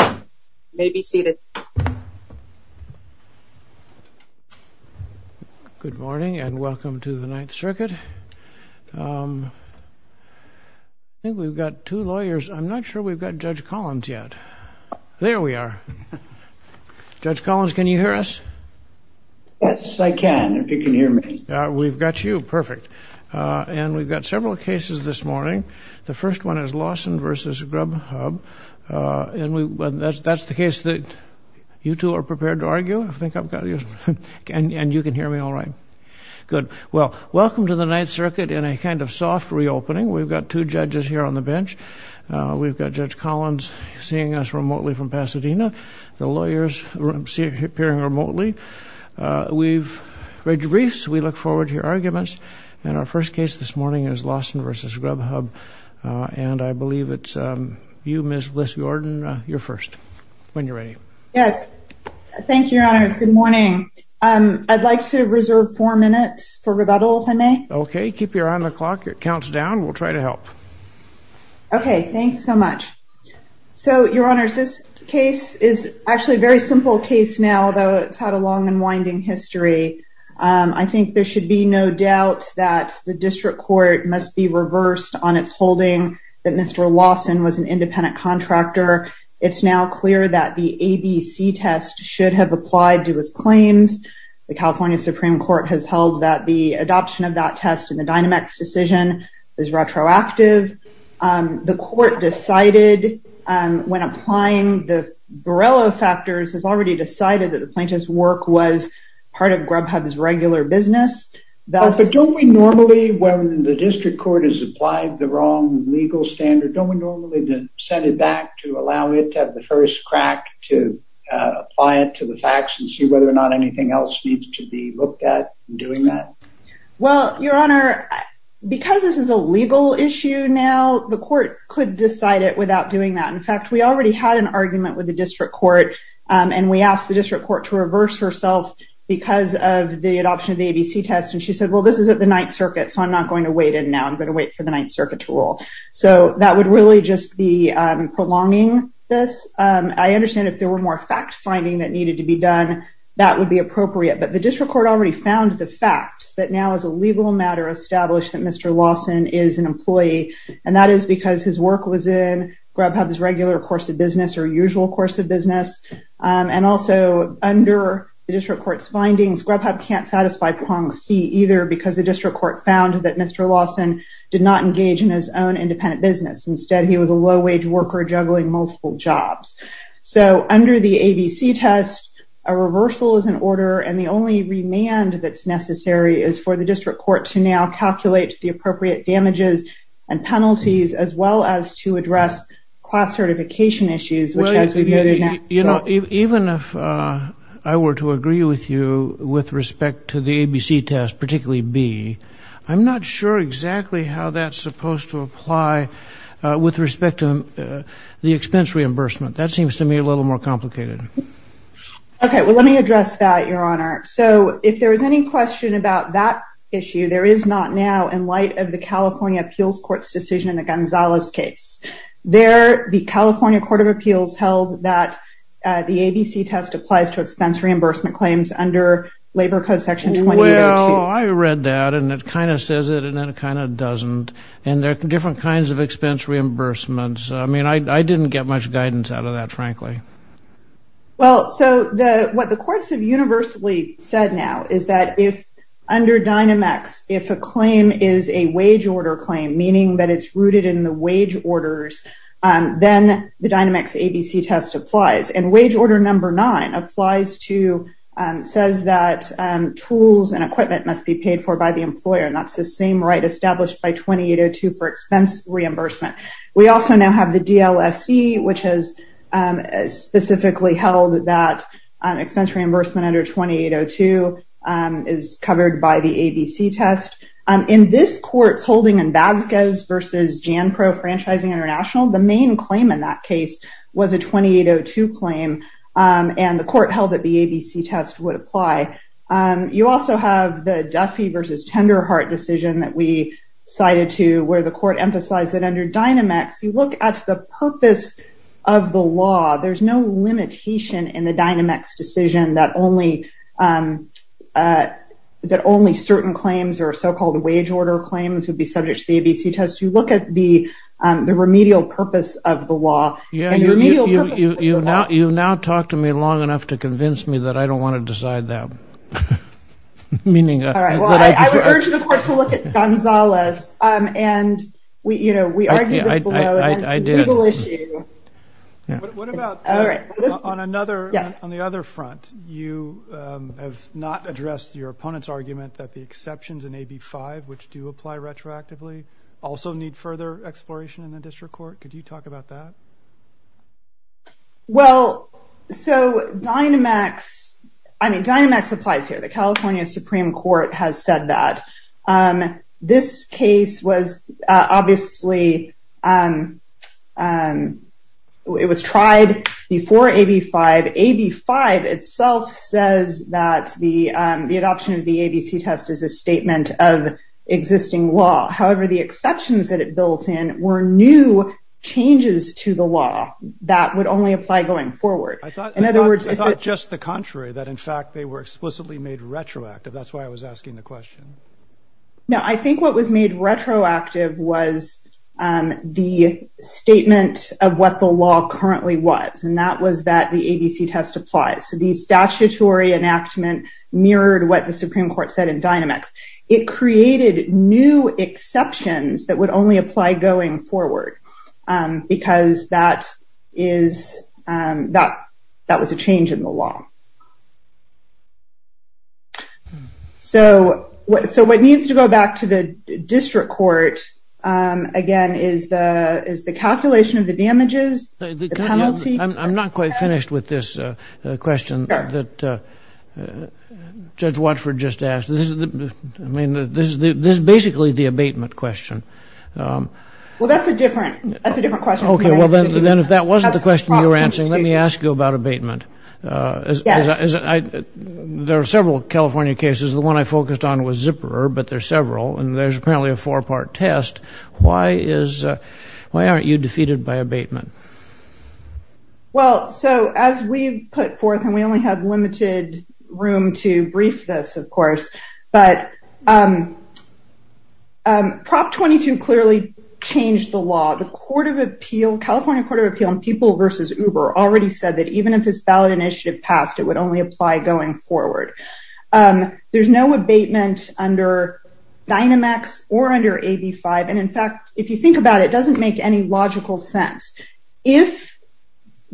You may be seated. Good morning and welcome to the Ninth Circuit. I think we've got two lawyers. I'm not sure we've got Judge Collins yet. There we are. Judge Collins, can you hear us? Yes, I can, if you can hear me. We've got you, perfect. And we've got Lawson v. Grubhub. That's the case that you two are prepared to argue? And you can hear me all right? Good. Well, welcome to the Ninth Circuit in a kind of soft reopening. We've got two judges here on the bench. We've got Judge Collins seeing us remotely from Pasadena. The lawyers are appearing remotely. We've read your briefs. We look forward to your briefs. I believe it's you, Ms. Bliss-Yorden, you're first, when you're ready. Yes. Thank you, Your Honors. Good morning. I'd like to reserve four minutes for rebuttal, if I may. Okay, keep your eye on the clock. It counts down. We'll try to help. Okay, thanks so much. So, Your Honors, this case is actually a very simple case now, though it's had a long and winding history. I think there should be no doubt that the district court must be reversed on its holding that Mr. Lawson was an independent contractor. It's now clear that the ABC test should have applied to his claims. The California Supreme Court has held that the adoption of that test in the Dynamex decision is retroactive. The court decided when applying the Borrello factors, has already decided that the plaintiff's work was part of Grubhub's regular business. But don't we normally, when the district court has applied the wrong legal standard, don't we normally then send it back to allow it to have the first crack to apply it to the facts and see whether or not anything else needs to be looked at in doing that? Well, Your Honor, because this is a legal issue now, the court could decide it without doing that. In fact, we already had an argument with the district court, and we asked the district court to this is at the Ninth Circuit, so I'm not going to wait in now. I'm going to wait for the Ninth Circuit to rule. So that would really just be prolonging this. I understand if there were more fact-finding that needed to be done, that would be appropriate. But the district court already found the facts that now is a legal matter established that Mr. Lawson is an employee, and that is because his work was in Grubhub's regular course of business or usual course of either because the district court found that Mr. Lawson did not engage in his own independent business. Instead, he was a low-wage worker juggling multiple jobs. So under the ABC test, a reversal is in order, and the only remand that's necessary is for the district court to now calculate the appropriate damages and penalties as well as to address class certification issues. You know, even if I were to agree with you with respect to the ABC test, particularly B, I'm not sure exactly how that's supposed to apply with respect to the expense reimbursement. That seems to me a little more complicated. Okay, well, let me address that, Your Honor. So, if there is any question about that issue, there is not now in light of the California Appeals Court's decision in the Gonzalez case. There, the California Court of Appeals held that the ABC test applies to expense reimbursement claims under Labor Code Section 2802. Well, I read that, and it kind of says it, and then it kind of doesn't, and there are different kinds of expense reimbursements. I mean, I didn't get much guidance out of that, frankly. Well, so what the courts have universally said now is that if under Dynamex, if a claim is a wage-order claim, meaning that it's rooted in the wage orders, then the Dynamex ABC test applies, and wage order number nine applies to, says that tools and equipment must be paid for by the employer, and that's the same right established by 2802 for expense reimbursement. We also now have the DLSE, which has specifically held that expense reimbursement under 2802 is covered by the ABC test. In this court's holding in Vasquez versus Janpro Franchising International, the main claim in that case was a 2802 claim, and the court held that the ABC test would apply. You also have the Duffy versus Tenderheart decision that we cited to where the court emphasized that under Dynamex, you look at the purpose of the law. There's no limitation in the certain claims or so-called wage-order claims would be subject to the ABC test. You look at the the remedial purpose of the law. Yeah, you've now talked to me long enough to convince me that I don't want to decide that. All right, well, I would urge the court to look at Gonzales, and we, you know, we argue this below as a legal issue. What about on another, on the other front, you have not addressed your opponent's argument that the exceptions in AB 5, which do apply retroactively, also need further exploration in the district court. Could you talk about that? Well, so Dynamex, I mean, Dynamex applies here. The California Supreme Court has said that. This case was obviously, it was tried before AB 5. AB 5 itself says that the adoption of the ABC test is a statement of existing law. However, the exceptions that it built in were new changes to the law that would only apply going forward. In other words, I thought just the contrary, that in fact, they were explicitly made retroactive. That's why I was asking the question. No, I think what was made retroactive was the statement of what the law currently was, and that was that the ABC test applies. So the statutory enactment mirrored what the Supreme Court said in Dynamex. It created new exceptions that would only apply going forward, because that is, that was a change in the law. So what needs to go back to the district court, again, is the calculation of the damages. The penalty. I'm not quite finished with this question that Judge Watford just asked. I mean, this is basically the abatement question. Well, that's a different, that's a different question. Okay, well, then if that wasn't the question you were answering, let me ask you about abatement. There are several California cases. The one I focused on was Zipperer, but there's several, and there's apparently a four-part test. Why is, why aren't you defeated by abatement? Well, so as we've put forth, and we only have limited room to brief this, of course, but Prop 22 clearly changed the law. The Court of Appeal, California Court of Appeal on People versus Uber, already said that even if this ballot initiative passed, it would only apply going forward. There's no abatement under Dynamex or under AB5, and in fact, if you think about it, it doesn't make any logical sense. If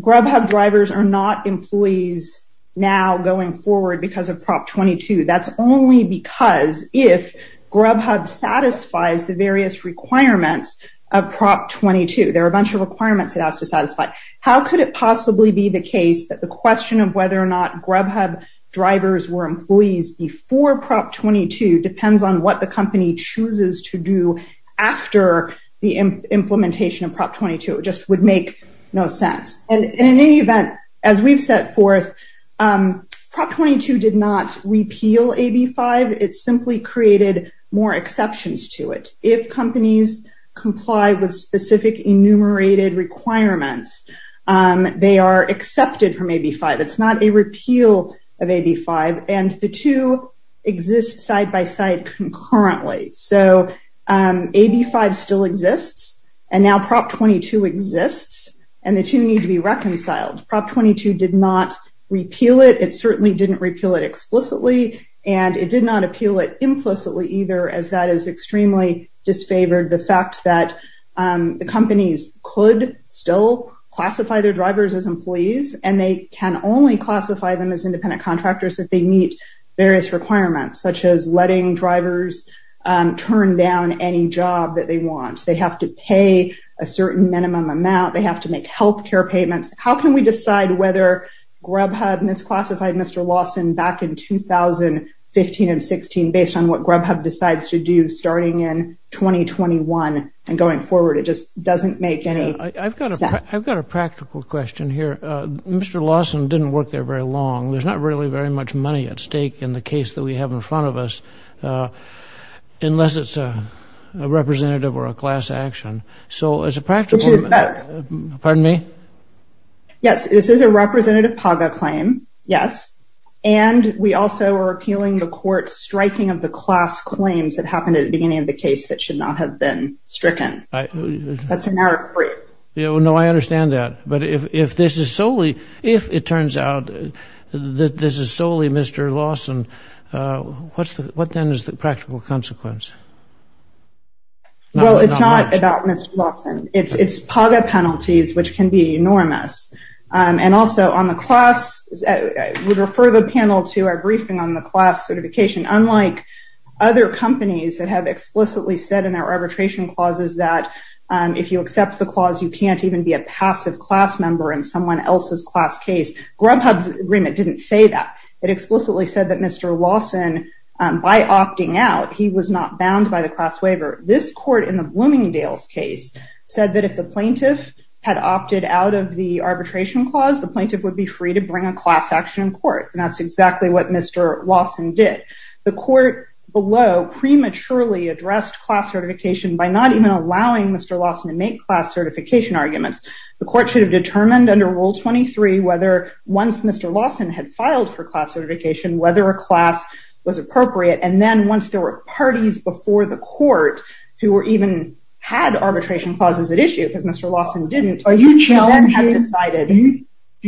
Grubhub drivers are not employees now going forward because of Prop 22, that's only because if Grubhub satisfies the various requirements of Prop 22. There are a bunch of requirements it has to satisfy. How could it possibly be the case that the question of whether or not Grubhub drivers were employees before Prop 22 depends on what the company chooses to do after the implementation of Prop 22? It just would make no sense. And in any event, as we've set forth, Prop 22 did not repeal AB5. It simply created more exceptions to it. If companies comply with specific enumerated requirements, they are accepted from AB5. It's not a repeal of AB5, and the two exist side by side concurrently. So AB5 still exists, and now Prop 22 exists, and the two need to be reconciled. Prop 22 did not repeal it. It certainly didn't repeal it explicitly, and it did not appeal it implicitly either, as that is extremely disfavored. The fact that the companies could still classify their drivers as employees, and they can only classify them as independent contractors if they meet various requirements, such as letting drivers turn down any job that they want. They have to pay a certain minimum amount. They have to make health care payments. How can we decide whether Grubhub misclassified Mr. Lawson back in 2015 and 2016 based on what Grubhub decides to do starting in 2021 and going forward? It just doesn't make any sense. I've got a practical question here. Mr. Lawson didn't work there very long. There's not really very much money at stake in the case that we have in front of us, unless it's a representative or a class action. So as a practical... Pardon me? Yes, this is a representative PAGA claim, yes, and we also are appealing the court striking of the class claims that happened at the beginning of the case that should not have been stricken. That's an error of three. Yeah, well, no, I understand that, but if this is solely, if it turns out that this is solely Mr. Lawson, what then is the practical consequence? Well, it's not about Mr. Lawson. It's PAGA penalties, which can be enormous, and also on the class, I would refer the panel to our briefing on the class certification. Unlike other companies that have explicitly said in their arbitration clauses that if you accept the clause, you can't even be a passive class member in someone else's class case. Grubhub's agreement didn't say that. It explicitly said that Mr. Lawson, by opting out, he was not bound by the class waiver. This court in the Bloomingdale's case said that if the clause, the plaintiff would be free to bring a class action in court, and that's exactly what Mr. Lawson did. The court below prematurely addressed class certification by not even allowing Mr. Lawson to make class certification arguments. The court should have determined under Rule 23 whether once Mr. Lawson had filed for class certification, whether a class was appropriate, and then once there were parties before the court who were even had arbitration clauses at issue because Mr. Lawson didn't. Do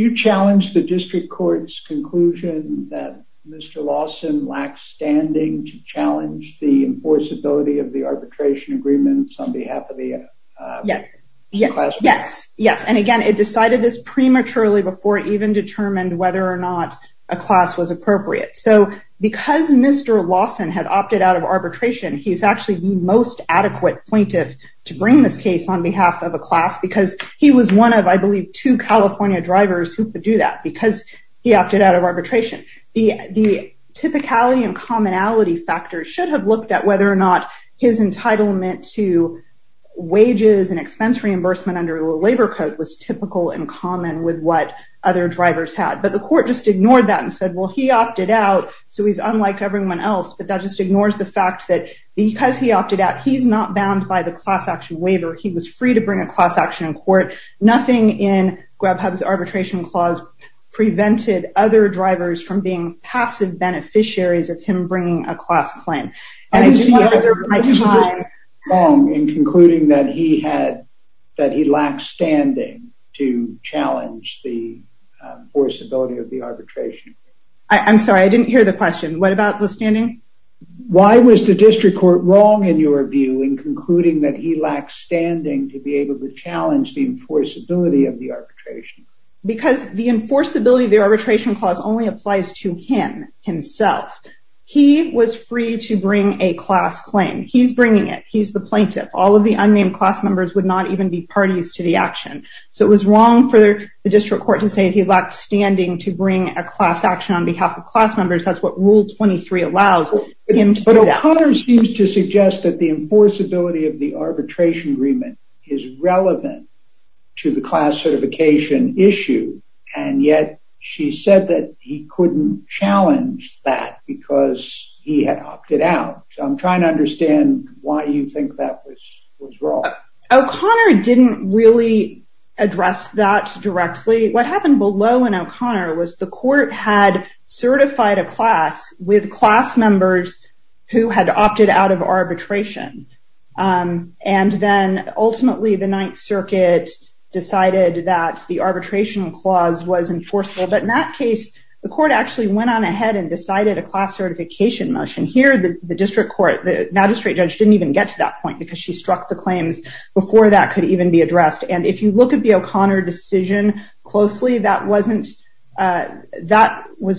you challenge the district court's conclusion that Mr. Lawson lacked standing to challenge the enforceability of the arbitration agreements on behalf of the class? Yes, and again, it decided this prematurely before it even determined whether or not a class was appropriate. So because Mr. Lawson had opted out of arbitration, he's actually the most adequate plaintiff to bring this case on behalf of a class because he was one of, I believe, two California drivers who could do that because he opted out of arbitration. The typicality and commonality factors should have looked at whether or not his entitlement to wages and expense reimbursement under a labor code was typical and common with what other drivers had, but the court just ignored that and said, well, he opted out, so he's unlike everyone else, but that just ignores the fact that because he opted out, he's not bound by the class action waiver. He was free to bring a class action in court. Nothing in Grebhub's arbitration clause prevented other drivers from being passive beneficiaries of him bringing a class claim, and I didn't want to lose my time. I didn't want to go too long in concluding that he lacked standing to challenge the enforceability of the arbitration. I'm sorry, I didn't hear the question. What about the standing? Why was the district court wrong in your view in concluding that he lacked standing to be able to challenge the enforceability of the arbitration? Because the enforceability of the arbitration clause only applies to him himself. He was free to bring a class claim. He's bringing it. He's the plaintiff. All of the unnamed class members would not even be parties to the action, so it was wrong for the district court to say he lacked standing to bring a class action on behalf of him. But O'Connor seems to suggest that the enforceability of the arbitration agreement is relevant to the class certification issue, and yet she said that he couldn't challenge that because he had opted out. I'm trying to understand why you think that was wrong. O'Connor didn't really address that directly. What happened below in O'Connor was the court had certified a class with class members who had opted out of arbitration, and then ultimately the Ninth Circuit decided that the arbitration clause was enforceable. But in that case, the court actually went on ahead and decided a class certification motion. Here, the district court magistrate judge didn't even get to that point because she struck the claims before that could even be addressed. And if you look at the O'Connor decision closely, that was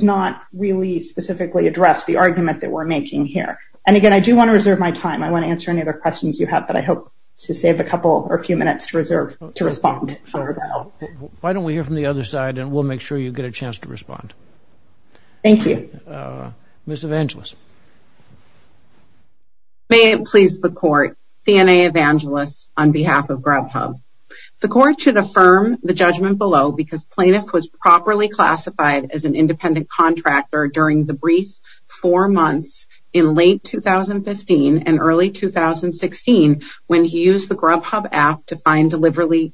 not really specifically addressed, the argument that we're making here. And again, I do want to reserve my time. I want to answer any other questions you have, but I hope to save a couple or a few minutes to respond. Why don't we hear from the other side, and we'll make sure you get a chance to respond. Thank you. Ms. Evangelos. May it please the court, D. N. A. Evangelos, on behalf of Grubhub. The court should affirm the judgment below because plaintiff was properly classified as an independent contractor during the brief four months in late 2015 and early 2016 when he used the Grubhub app to find delivery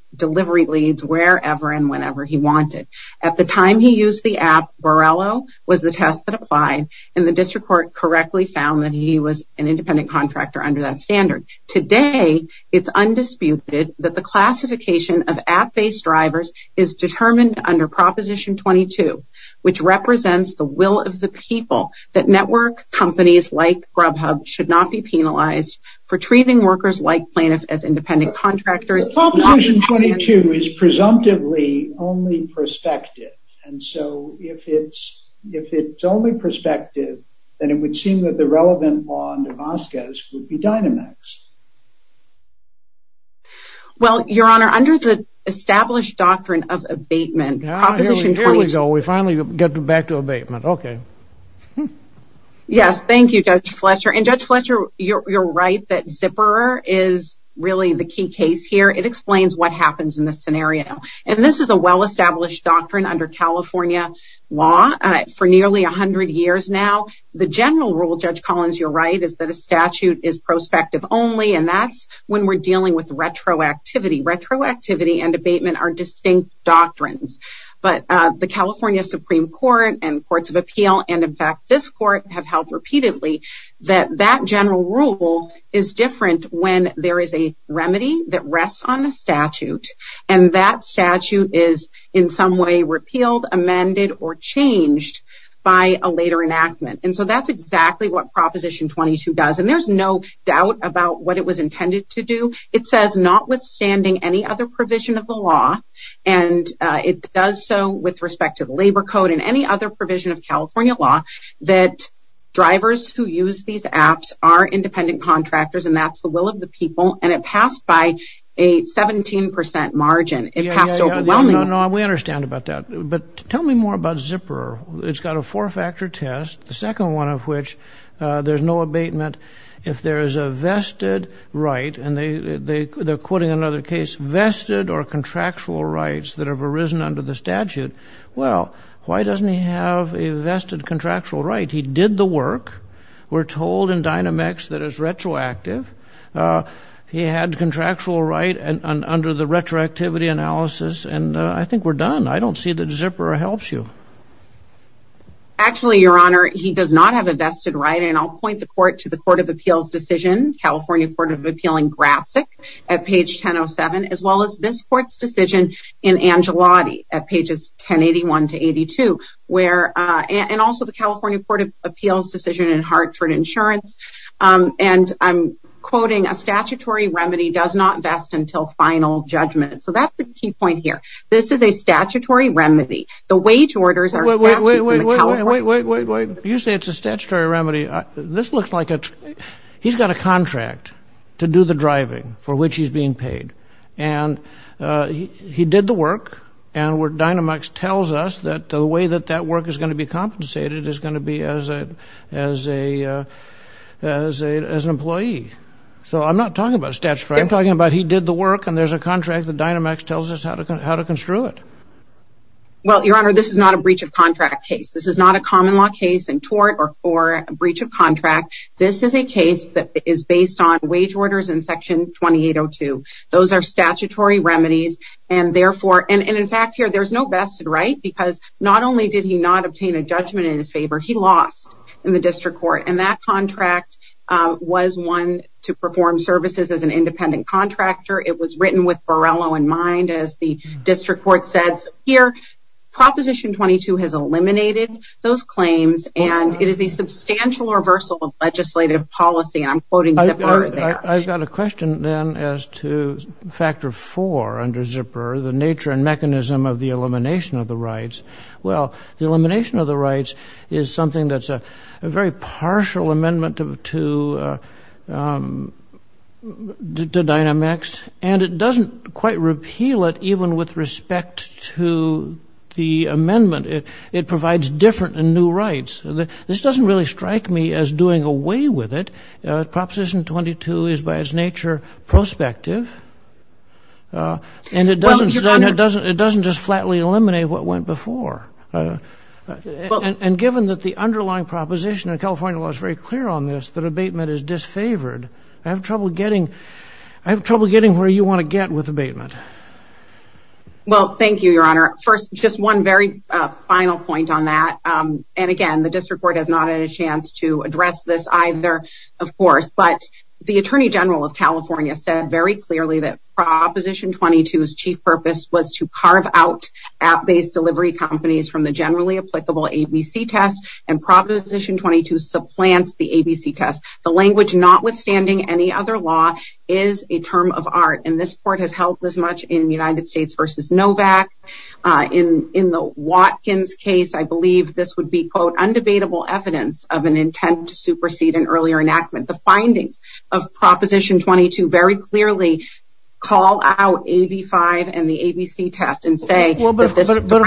leads wherever and whenever he wanted. At the time he used the app, Borrello was the test that applied, and the district court correctly found that he was an independent contractor under that standard. Today, it's undisputed that the classification of app-based drivers is determined under Proposition 22, which represents the will of the people that network companies like Grubhub should not be penalized for treating workers like plaintiffs as independent contractors. Proposition 22 is presumptively only prospective, and so if it's only prospective, then it would seem that the relevant law in Damascus would be Dynamex. Well, Your Honor, under the established doctrine of abatement... Ah, here we go. We finally get back to abatement. Okay. Yes, thank you, Judge Fletcher. And Judge Fletcher, you're right that Zipper is really the key case here. It explains what happens in this scenario, and this is a well-established doctrine under California law for nearly 100 years now. The general rule, Judge Collins, you're right, is that a statute is prospective only, and that's when we're dealing with retroactivity. Retroactivity and abatement are distinct doctrines, but the California Supreme Court and Courts of Appeal, and in fact this court, have held repeatedly that that general rule is different when there is a remedy that rests on a statute, and that statute is in some way repealed, amended, or changed by a later enactment. And so that's exactly what Proposition 22 does, and there's no doubt about what it was intended to do. It says, notwithstanding any other provision of the law, and it does so with respect to the labor code and any other provision of independent contractors, and that's the will of the people, and it passed by a 17% margin. It passed overwhelmingly. We understand about that, but tell me more about Zipper. It's got a four-factor test, the second one of which, there's no abatement if there is a vested right, and they're quoting another case, vested or contractual rights that have arisen under the statute. Well, why doesn't he have a vested contractual right? He did the work. We're told in Dynamex that it's retroactive. He had contractual right under the retroactivity analysis, and I think we're done. I don't see that Zipper helps you. Actually, your honor, he does not have a vested right, and I'll point the court to the Court of Appeals decision, California Court of Appeal in Gratzik at page 1007, as well as this court's decision in Angelotti at pages 1081 to 82, where, and also the California Court of Appeals decision in Hartford Insurance, and I'm quoting, a statutory remedy does not vest until final judgment, so that's the key point here. This is a statutory remedy. The wage orders are... Wait, wait, wait, wait, wait, wait, wait, wait. You say it's a statutory remedy. This looks like a, he's got a contract to do the driving for which he's being paid, and he did the work, and where Dynamex tells us that the way that that work is going to be compensated is going to be as a, as a, as an employee. So I'm not talking about statutory. I'm talking about he did the work, and there's a contract that Dynamex tells us how to, how to construe it. Well, your honor, this is not a breach of contract case. This is not a common law case in tort or for a breach of contract. This is a case that is based on wage orders in Section 2802. Those are statutory remedies, and therefore, and in fact, here, there's no vested right, because not only did he not obtain a judgment in his favor, he lost in the district court, and that contract was one to perform services as an independent contractor. It was written with Borrello in mind, as the district court says. Here, Proposition 22 has eliminated those claims, and it is a substantial reversal of legislative policy, and I'm quoting I've got a question, then, as to Factor 4 under Zipper, the nature and mechanism of the elimination of the rights. Well, the elimination of the rights is something that's a very partial amendment to Dynamex, and it doesn't quite repeal it, even with respect to the amendment. It provides different and new rights. This doesn't really strike me as doing away with it. Proposition 22 is, by its nature, prospective, and it doesn't just flatly eliminate what went before, and given that the underlying proposition in California law is very clear on this, that abatement is disfavored, I have trouble getting where you want to get with abatement. Well, thank you, Your Honor. First, just one very final point on that, and again, the district court has not had a chance to address this either, of course, but the Attorney General of California said very clearly that Proposition 22's chief purpose was to carve out app-based delivery companies from the generally applicable ABC test, and Proposition 22 supplants the ABC test. The language, notwithstanding any other law, is a term of art, and this court has much in the United States v. Novak. In the Watkins case, I believe this would be, quote, undebatable evidence of an intent to supersede an earlier enactment. The findings of Proposition 22 very clearly call out AB5 and the ABC test and say that this is... But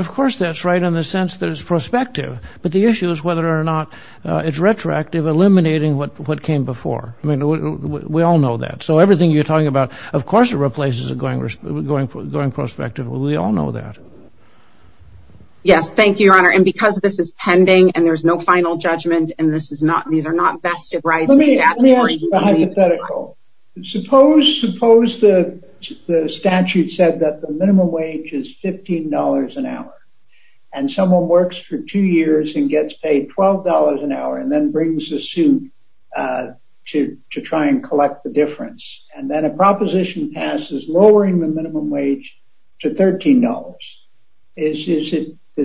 of course that's right in the sense that it's prospective, but the issue is whether or not it's retroactive, eliminating what came before. I mean, we all know that. So everything you're talking about, of course it replaces a going prospective. We all know that. Yes, thank you, Your Honor, and because this is pending and there's no final judgment and this is not... These are not vested rights. Let me ask you a hypothetical. Suppose the statute said that the minimum wage is $15 an hour, and someone works for two years and gets paid $12 an hour and then brings a suit to try and collect the difference, and then a proposition passes lowering the minimum wage to $13. Is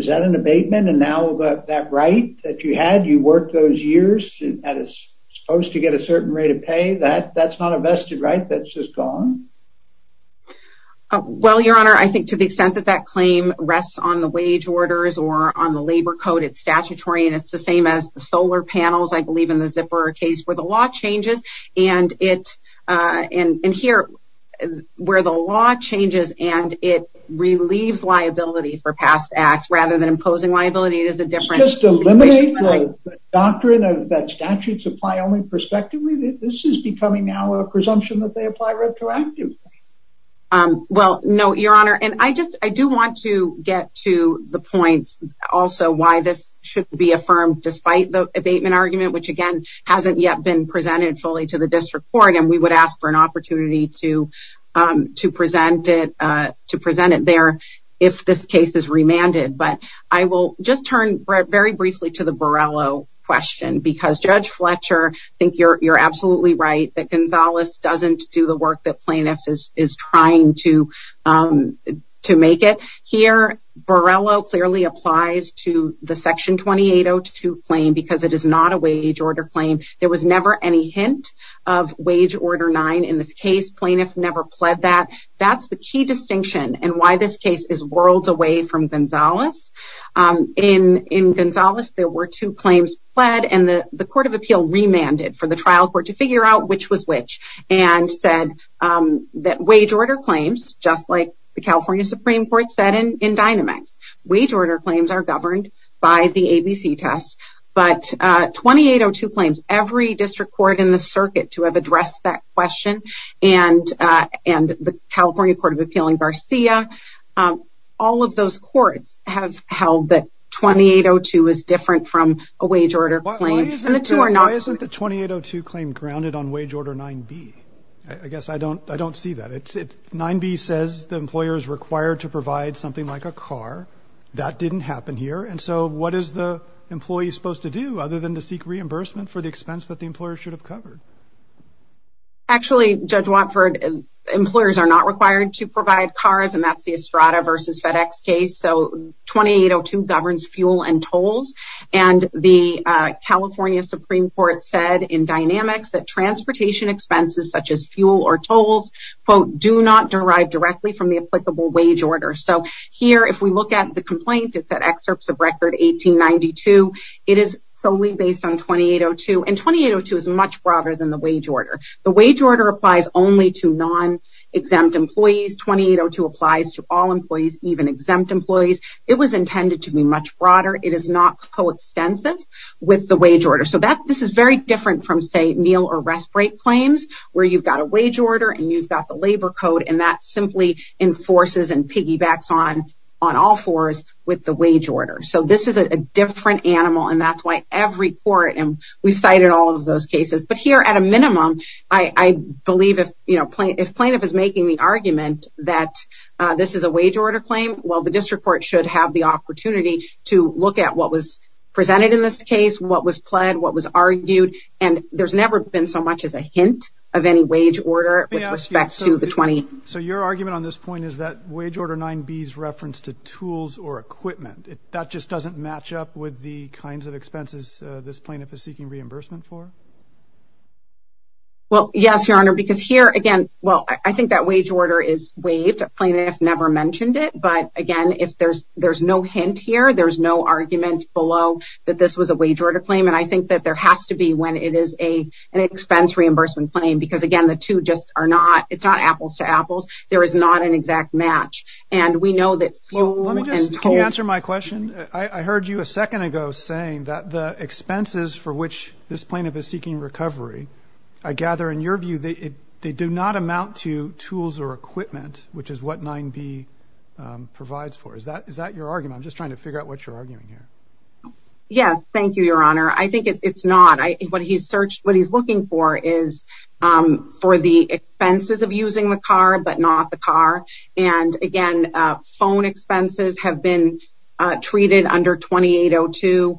that an abatement? And now that right that you had, you worked those years, and that is supposed to get a certain rate of pay, that's not a vested right? That's just gone? Well, Your Honor, I think to the extent that that claim rests on the wage orders or on the labor code, it's statutory, and it's the same as the solar panels, I believe, in the Zipper case, where the law changes and it... And here, where the law changes and it relieves liability for past acts rather than imposing liability, it is a different... Just eliminate the doctrine that statutes apply only prospectively? This is becoming now a presumption that they apply retroactively? Well, no, Your Honor, and I just, I do want to get to the point also why this should be affirmed despite the abatement argument, which again, hasn't yet been presented fully to the District Court, and we would ask for an opportunity to present it there if this case is remanded. But I will just turn very briefly to the Borrello question, because Judge Fletcher, I think you're absolutely right that Gonzalez doesn't do the work the plaintiff is trying to make it. Here, Borrello clearly applies to the Section 2802 claim because it is not a wage order claim. There was never any hint of wage order 9 in this case. Plaintiff never pled that. That's the key distinction and why this case is worlds away from Gonzalez. In Gonzalez, there were two claims pled, and the Court of Appeal remanded for the trial court to figure out which was which and said that wage order claims, just like the California Supreme Court said in Dynamex, wage order claims are governed by the ABC test. But 2802 claims, every district court in the circuit to have addressed that question, and the California Court of Appeal in Garcia, all of those courts have held that 2802 is different from a wage order claim. Why isn't the 2802 claim grounded on wage order 9b? I guess I don't see that. 9b says the employer is required to provide something like a car. That didn't happen here. And so what is the employee supposed to do other than to seek reimbursement for the expense that the employer should have covered? Actually, Judge Watford, employers are not required to provide cars, and that's the Estrada versus FedEx case. So 2802 governs fuel and tolls. And the California Supreme Court said in Dynamex, that transportation expenses such as fuel or tolls, quote, do not derive directly from the applicable wage order. So here, if we look at the complaint, it's at excerpts of record 1892. It is solely based on 2802. And 2802 is much broader than the wage order. The wage order applies only to non-exempt employees. 2802 applies to all employees, even exempt employees. It was intended to be much broader. It is not coextensive with the wage order. So this is very different from, say, meal or rest break claims, where you've got a wage order and you've got the labor code, and that simply enforces and piggybacks on all fours with the wage order. So this is a different animal, and that's why every court, and we've cited all of those cases. But here, at a minimum, I believe if, you know, if plaintiff is making the argument that this is a wage order claim, well, the district court should have the opportunity to look at what was presented in this case, what was pled, what was argued, and there's never been so much as a hint of any wage order with respect to the 28. So your argument on this point is that wage order 9b's reference to tools or equipment, that just doesn't match up with the kinds of expenses this plaintiff is seeking reimbursement for? Well, yes, your honor, because here, again, well, I think that wage order is waived. A plaintiff never mentioned it, but again, if there's no hint here, there's no argument below that this was a wage order claim, and I think that there has to be when it is an expense reimbursement claim, because again, the two just are not, it's not apples to apples. There is not an exact match, and we know Let me just, can you answer my question? I heard you a second ago saying that the expenses for which this plaintiff is seeking recovery, I gather in your view, they do not amount to tools or equipment, which is what 9b provides for. Is that your argument? I'm just trying to figure out what you're arguing here. Yes, thank you, your honor. I think it's not. What he's looking for is for the expenses of expenses have been treated under 2802.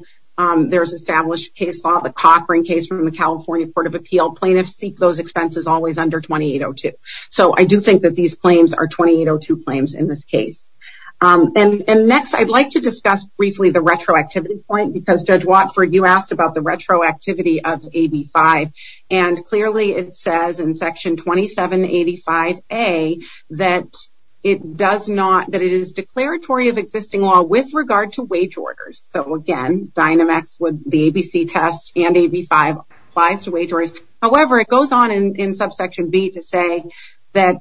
There's established case law, the Cochran case from the California Court of Appeal. Plaintiffs seek those expenses always under 2802, so I do think that these claims are 2802 claims in this case. And next, I'd like to discuss briefly the retroactivity point, because Judge Watford, you asked about the retroactivity of AB5, and clearly it says in existing law with regard to wage orders. So again, Dynamex would, the ABC test and AB5 applies to wage orders. However, it goes on in subsection B to say that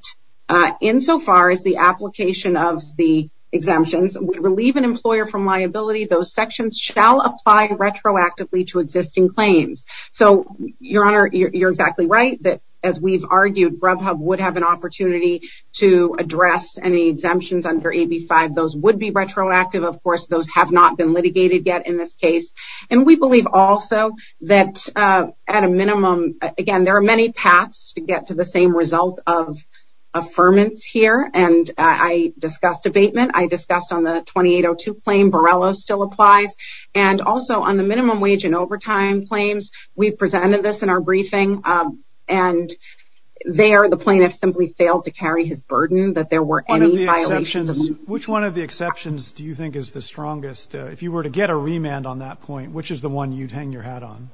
insofar as the application of the exemptions would relieve an employer from liability, those sections shall apply retroactively to existing claims. So your honor, you're exactly right that as we've argued, Grubhub would have an AB5. Those would be retroactive. Of course, those have not been litigated yet in this case. And we believe also that at a minimum, again, there are many paths to get to the same result of affirmance here. And I discussed abatement. I discussed on the 2802 claim, Borrello still applies. And also on the minimum wage and overtime claims, we've presented this in our briefing. And there, the plaintiff simply failed to carry his burden that there were any violations. Which one of the exceptions do you think is the strongest? If you were to get a remand on that point, which is the one you'd hang your hat on?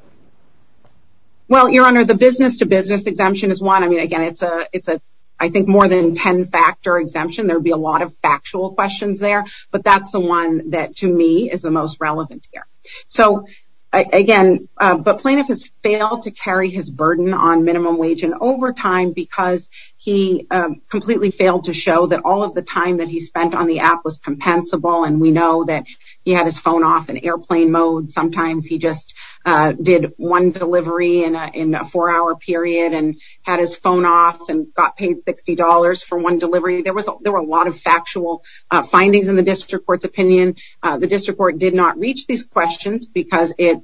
Well, your honor, the business to business exemption is one. I mean, again, it's a, it's a, I think more than 10 factor exemption. There'd be a lot of factual questions there, but that's the one that to me is the most relevant here. So again, but plaintiff has failed to carry his burden on minimum wage and overtime because he completely failed to show that all of the time that he spent on the app was compensable. And we know that he had his phone off in airplane mode. Sometimes he just did one delivery in a four hour period and had his phone off and got paid $60 for one delivery. There was, there were a lot of factual findings in the district court's opinion. The district court did not reach these questions because it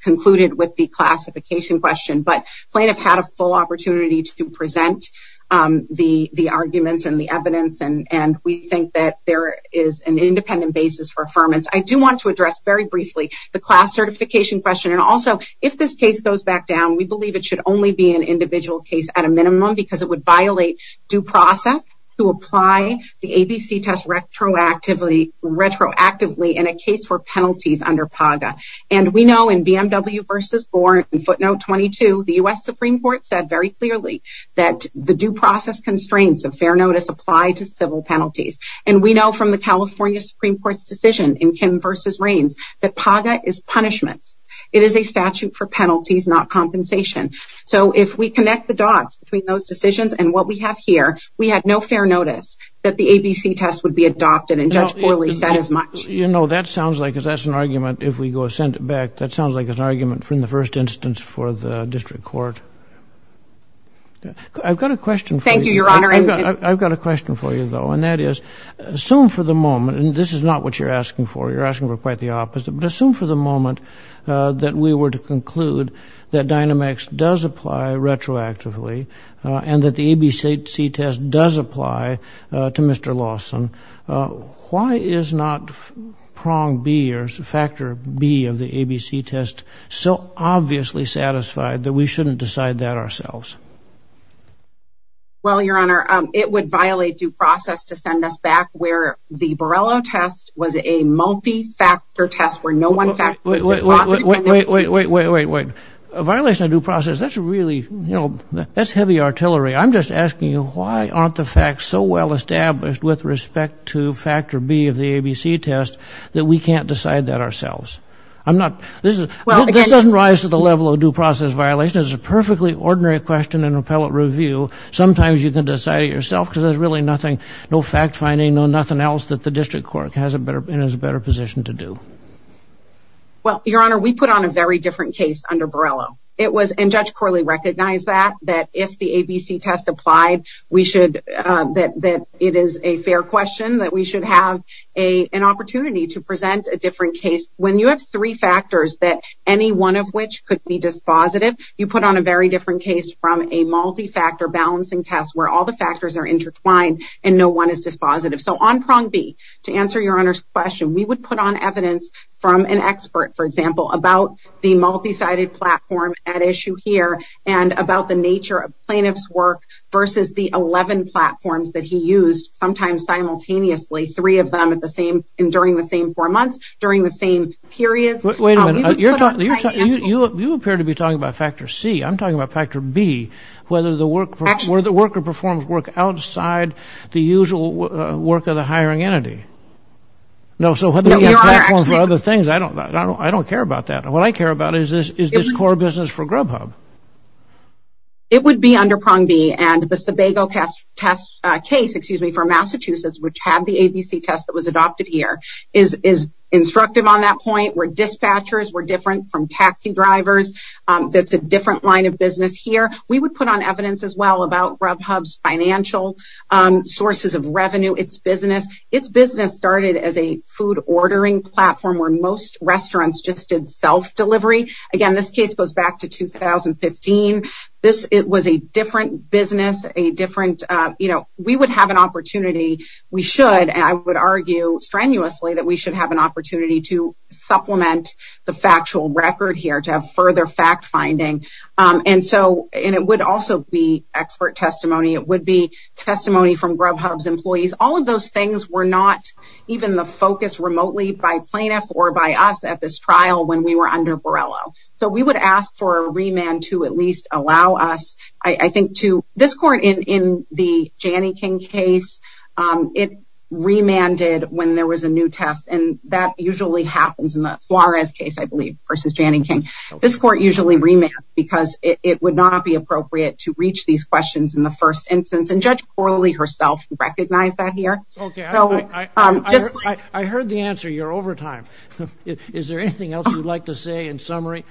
concluded with the classification question, but plaintiff had a full opportunity to present the arguments and the evidence. And we think that there is an independent basis for affirmance. I do want to address very briefly the class certification question. And also if this case goes back down, we believe it should only be an individual case at a minimum because it would violate due process to apply the ABC test retroactively in a case for penalties under PAGA. And we know in BMW versus footnote 22, the U.S. Supreme court said very clearly that the due process constraints of fair notice apply to civil penalties. And we know from the California Supreme court's decision in Kim versus reigns that PAGA is punishment. It is a statute for penalties, not compensation. So if we connect the dots between those decisions and what we have here, we had no fair notice that the ABC test would be adopted and judged poorly said as much, you know, that sounds like that's an argument. If we go send it back, that sounds like an argument from the first instance for the district court. I've got a question. I've got a question for you though. And that is assume for the moment, and this is not what you're asking for. You're asking for quite the opposite, but assume for the moment that we were to conclude that Dynamex does apply retroactively and that the ABC test does apply to Mr. Lawson. Why is not prong B or factor B of the ABC test so obviously satisfied that we shouldn't decide that ourselves? Well, your honor, it would violate due process to send us back where the Borrello test was a multi-factor test where no one fact wait, wait, wait, wait, wait, wait, wait, wait, a violation of due process. That's really, you know, that's heavy artillery. I'm just asking you, why aren't the facts so well established with respect to factor B of the ABC test that we can't decide that ourselves? I'm not, this doesn't rise to the level of due process violation. It's a perfectly ordinary question in appellate review. Sometimes you can decide it yourself because there's really nothing, no fact finding, no nothing else that the district court has a better and is a better position to do. Well, your honor, we put on a very different case under Borrello. It was, and Judge Corley recognized that, that if the ABC test applied, we should, that it is a fair question that we should have an opportunity to present a different case. When you have three factors that any one of which could be dispositive, you put on a very different case from a multi-factor balancing test where all the factors are intertwined and no one is dispositive. So on prong B, to answer your honor's question, we would put on evidence from an expert, for example, about the multi-sided platform at issue here and about the nature of plaintiff's work versus the 11 platforms that he used, sometimes simultaneously, three of them at the same, and during the same four months, during the same period. Wait a minute, you're talking, you're talking, you appear to be talking about factor C. I'm talking about factor B, whether the work, where the worker performs work outside the usual work of the hiring entity. No, so whether you have platforms for other things, I don't, I don't, I don't care about that. What I care about is this, is this core business for Grubhub. It would be under prong B, and the Sebago test, test case, excuse me, for Massachusetts, which had the ABC test that was adopted here, is, is instructive on that point, where dispatchers were different from taxi drivers, that's a different line of business here. We would put on evidence as well about Grubhub's financial sources of revenue, its business. Its business started as a food ordering platform where most restaurants just did self-delivery. Again, this case goes back to 2015. This, it was a different business, a different, you know, we would have an opportunity, we should, and I would argue strenuously that we should have an opportunity to supplement the factual record here, to have from Grubhub's employees. All of those things were not even the focus remotely by plaintiff or by us at this trial when we were under Borrello. So we would ask for a remand to at least allow us, I think, to this court in, in the Janneking case, it remanded when there was a new test, and that usually happens in the Flores case, I believe, versus Janneking. This court usually remanded because it would not be appropriate to reach these questions in the first instance, and Judge Corley herself recognized that here. Okay, I heard the answer, you're over time. Is there anything else you'd like to say in summary?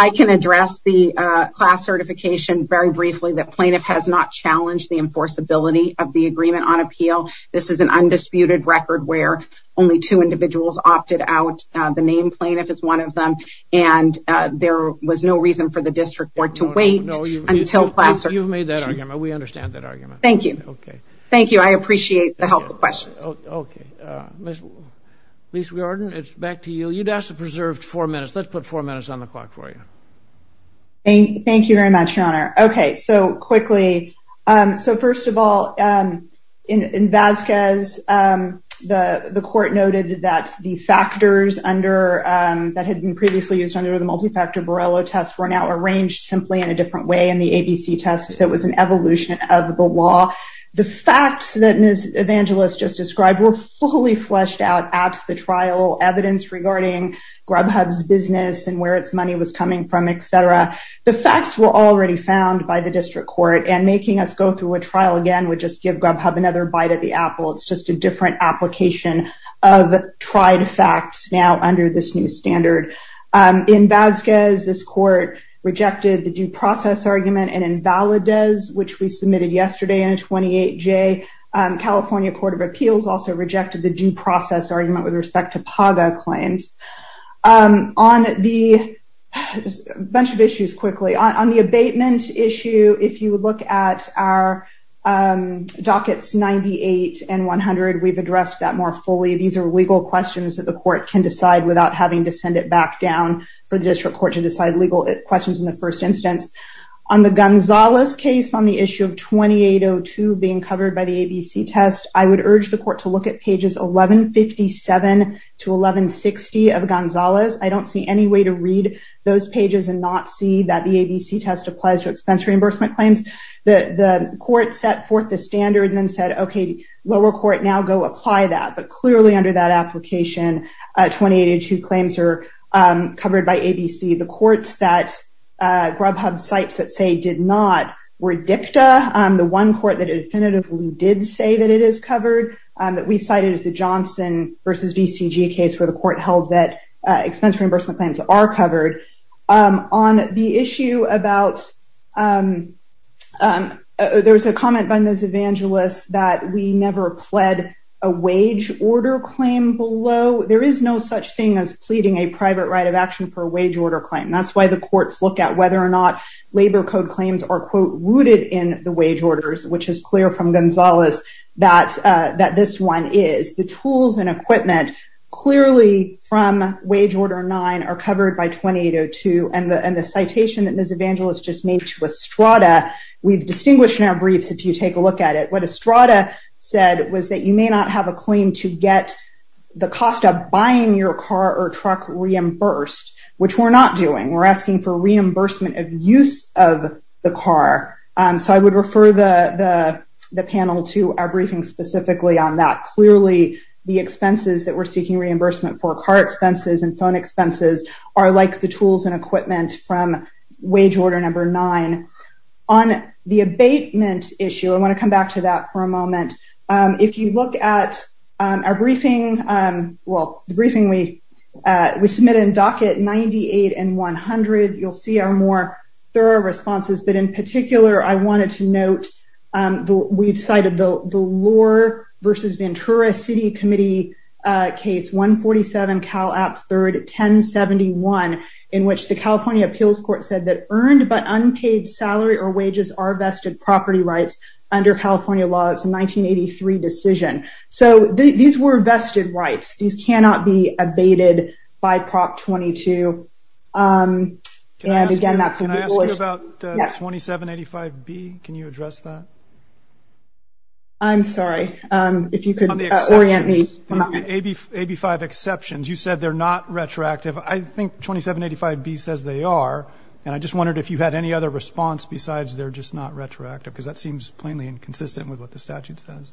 I can address the class certification very briefly that plaintiff has not challenged the enforceability of the agreement on appeal. This is an undisputed record where only two individuals opted out. The named plaintiff is one of them, and there was no reason for the district court to wait until class certification. You've made that argument. We understand that argument. Thank you. Okay. Thank you. I appreciate the help of questions. Okay. Ms. Lees-Riordan, it's back to you. You'd asked to preserve four minutes. Let's put four minutes on the clock for you. Thank you very much, Your Honor. Okay, so quickly. So first of all, in Vasquez, the court noted that the factors that had been previously used under the multi-factor Borrello test were now arranged simply in a different way in the ABC test, so it was an evolution of the law. The facts that Ms. Evangelos just described were fully fleshed out at the trial, evidence regarding Grubhub's business and where its money was coming from, etc. The facts were already found by the district court, and making us go through a trial again would just give Grubhub another bite at the apple. It's just a different application of tried facts now under this new standard. In Vasquez, this court rejected the due process argument, and in Valadez, which we submitted yesterday in a 28-J, California Court of Appeals also rejected the due process argument with respect to PAGA claims. A bunch of issues, quickly. On the abatement issue, if you look at our dockets 98 and 100, we've addressed that more fully. These are legal questions that the court can decide without having to send it back down for the district court to decide legal questions in the first instance. On the Gonzalez case on issue of 2802 being covered by the ABC test, I would urge the court to look at pages 1157 to 1160 of Gonzalez. I don't see any way to read those pages and not see that the ABC test applies to expense reimbursement claims. The court set forth the standard and then said, okay, lower court, now go apply that, but clearly under that application, 2802 claims are covered by ABC. The one court that definitively did say that it is covered, that we cited as the Johnson versus VCG case where the court held that expense reimbursement claims are covered. On the issue about, there was a comment by Ms. Evangelist that we never pled a wage order claim below. There is no such thing as pleading a private right of action for a wage order claim. That's why the wage orders, which is clear from Gonzalez, that this one is. The tools and equipment clearly from wage order nine are covered by 2802 and the citation that Ms. Evangelist just made to Estrada, we've distinguished in our briefs if you take a look at it, what Estrada said was that you may not have a claim to get the cost of buying your car or truck reimbursed, which we're not doing. We're asking for reimbursement of use of the car, so I would refer the panel to our briefing specifically on that. Clearly, the expenses that we're seeking reimbursement for, car expenses and phone expenses, are like the tools and equipment from wage order number nine. On the abatement issue, I want to come back to that for a moment. If you look at our briefing, well, the briefing we submitted in docket 98 and 100, you'll see our more thorough responses, but in particular, I wanted to note, we've cited the Lohr versus Ventura City Committee case 147 Cal App 3rd 1071, in which the California Appeals Court said that earned but unpaid salary or wages are vested property rights under California laws 1983 decision. These were vested rights. These cannot be abated by Prop 22. Can I ask you about 2785B? Can you address that? I'm sorry, if you could orient me. AB5 exceptions, you said they're not retroactive. I think 2785B says they are, and I just wondered if you had any other response besides they're just not retroactive, because that seems plainly inconsistent with what the statute says.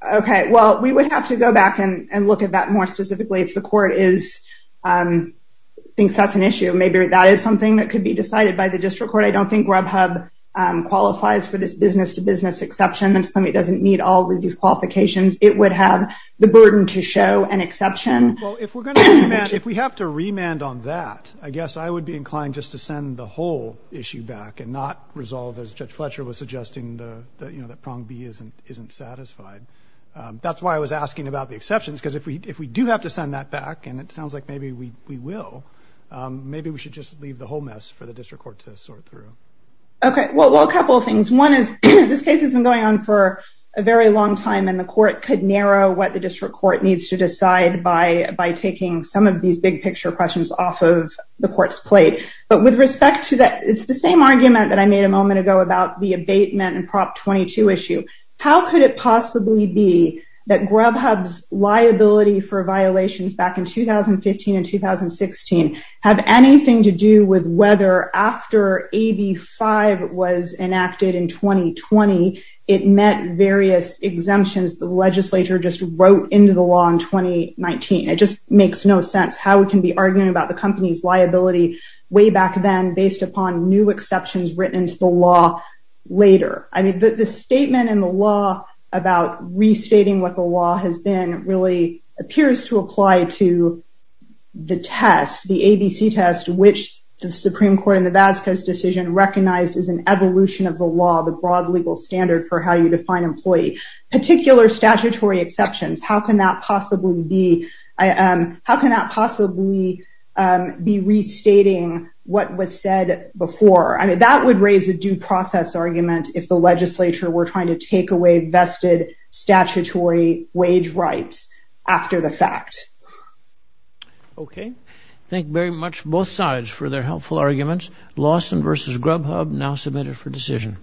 Okay, well, we would have to go back and look at that more specifically if the court thinks that's an issue. Maybe that is something that could be decided by the district court. I don't think Grubhub qualifies for this business-to-business exception. It doesn't meet all of these qualifications. It would have the burden to show an exception. Well, if we have to remand on that, I guess I would be inclined just to send the whole thing back. That's why I was asking about the exceptions, because if we do have to send that back, and it sounds like maybe we will, maybe we should just leave the whole mess for the district court to sort through. Okay, well, a couple of things. One is this case has been going on for a very long time, and the court could narrow what the district court needs to decide by taking some of these big-picture questions off of the court's plate. But with respect to that, it's the same that I made a moment ago about the abatement and Prop 22 issue. How could it possibly be that Grubhub's liability for violations back in 2015 and 2016 have anything to do with whether after AB 5 was enacted in 2020, it met various exemptions the legislature just wrote into the law in 2019? It just makes no sense how we can be arguing about the company's liability way back then based upon new exceptions written into the law later. I mean, the statement in the law about restating what the law has been really appears to apply to the test, the ABC test, which the Supreme Court in the Vasco's decision recognized as an evolution of the law, the broad legal standard for how you define employee. Particular statutory exceptions, how can that possibly be restating what was said before? I mean, that would raise a due process argument if the legislature were trying to take away vested statutory wage rights after the fact. Okay, thank very much both sides for their helpful arguments. Lawson versus Grubhub now submitted for decision.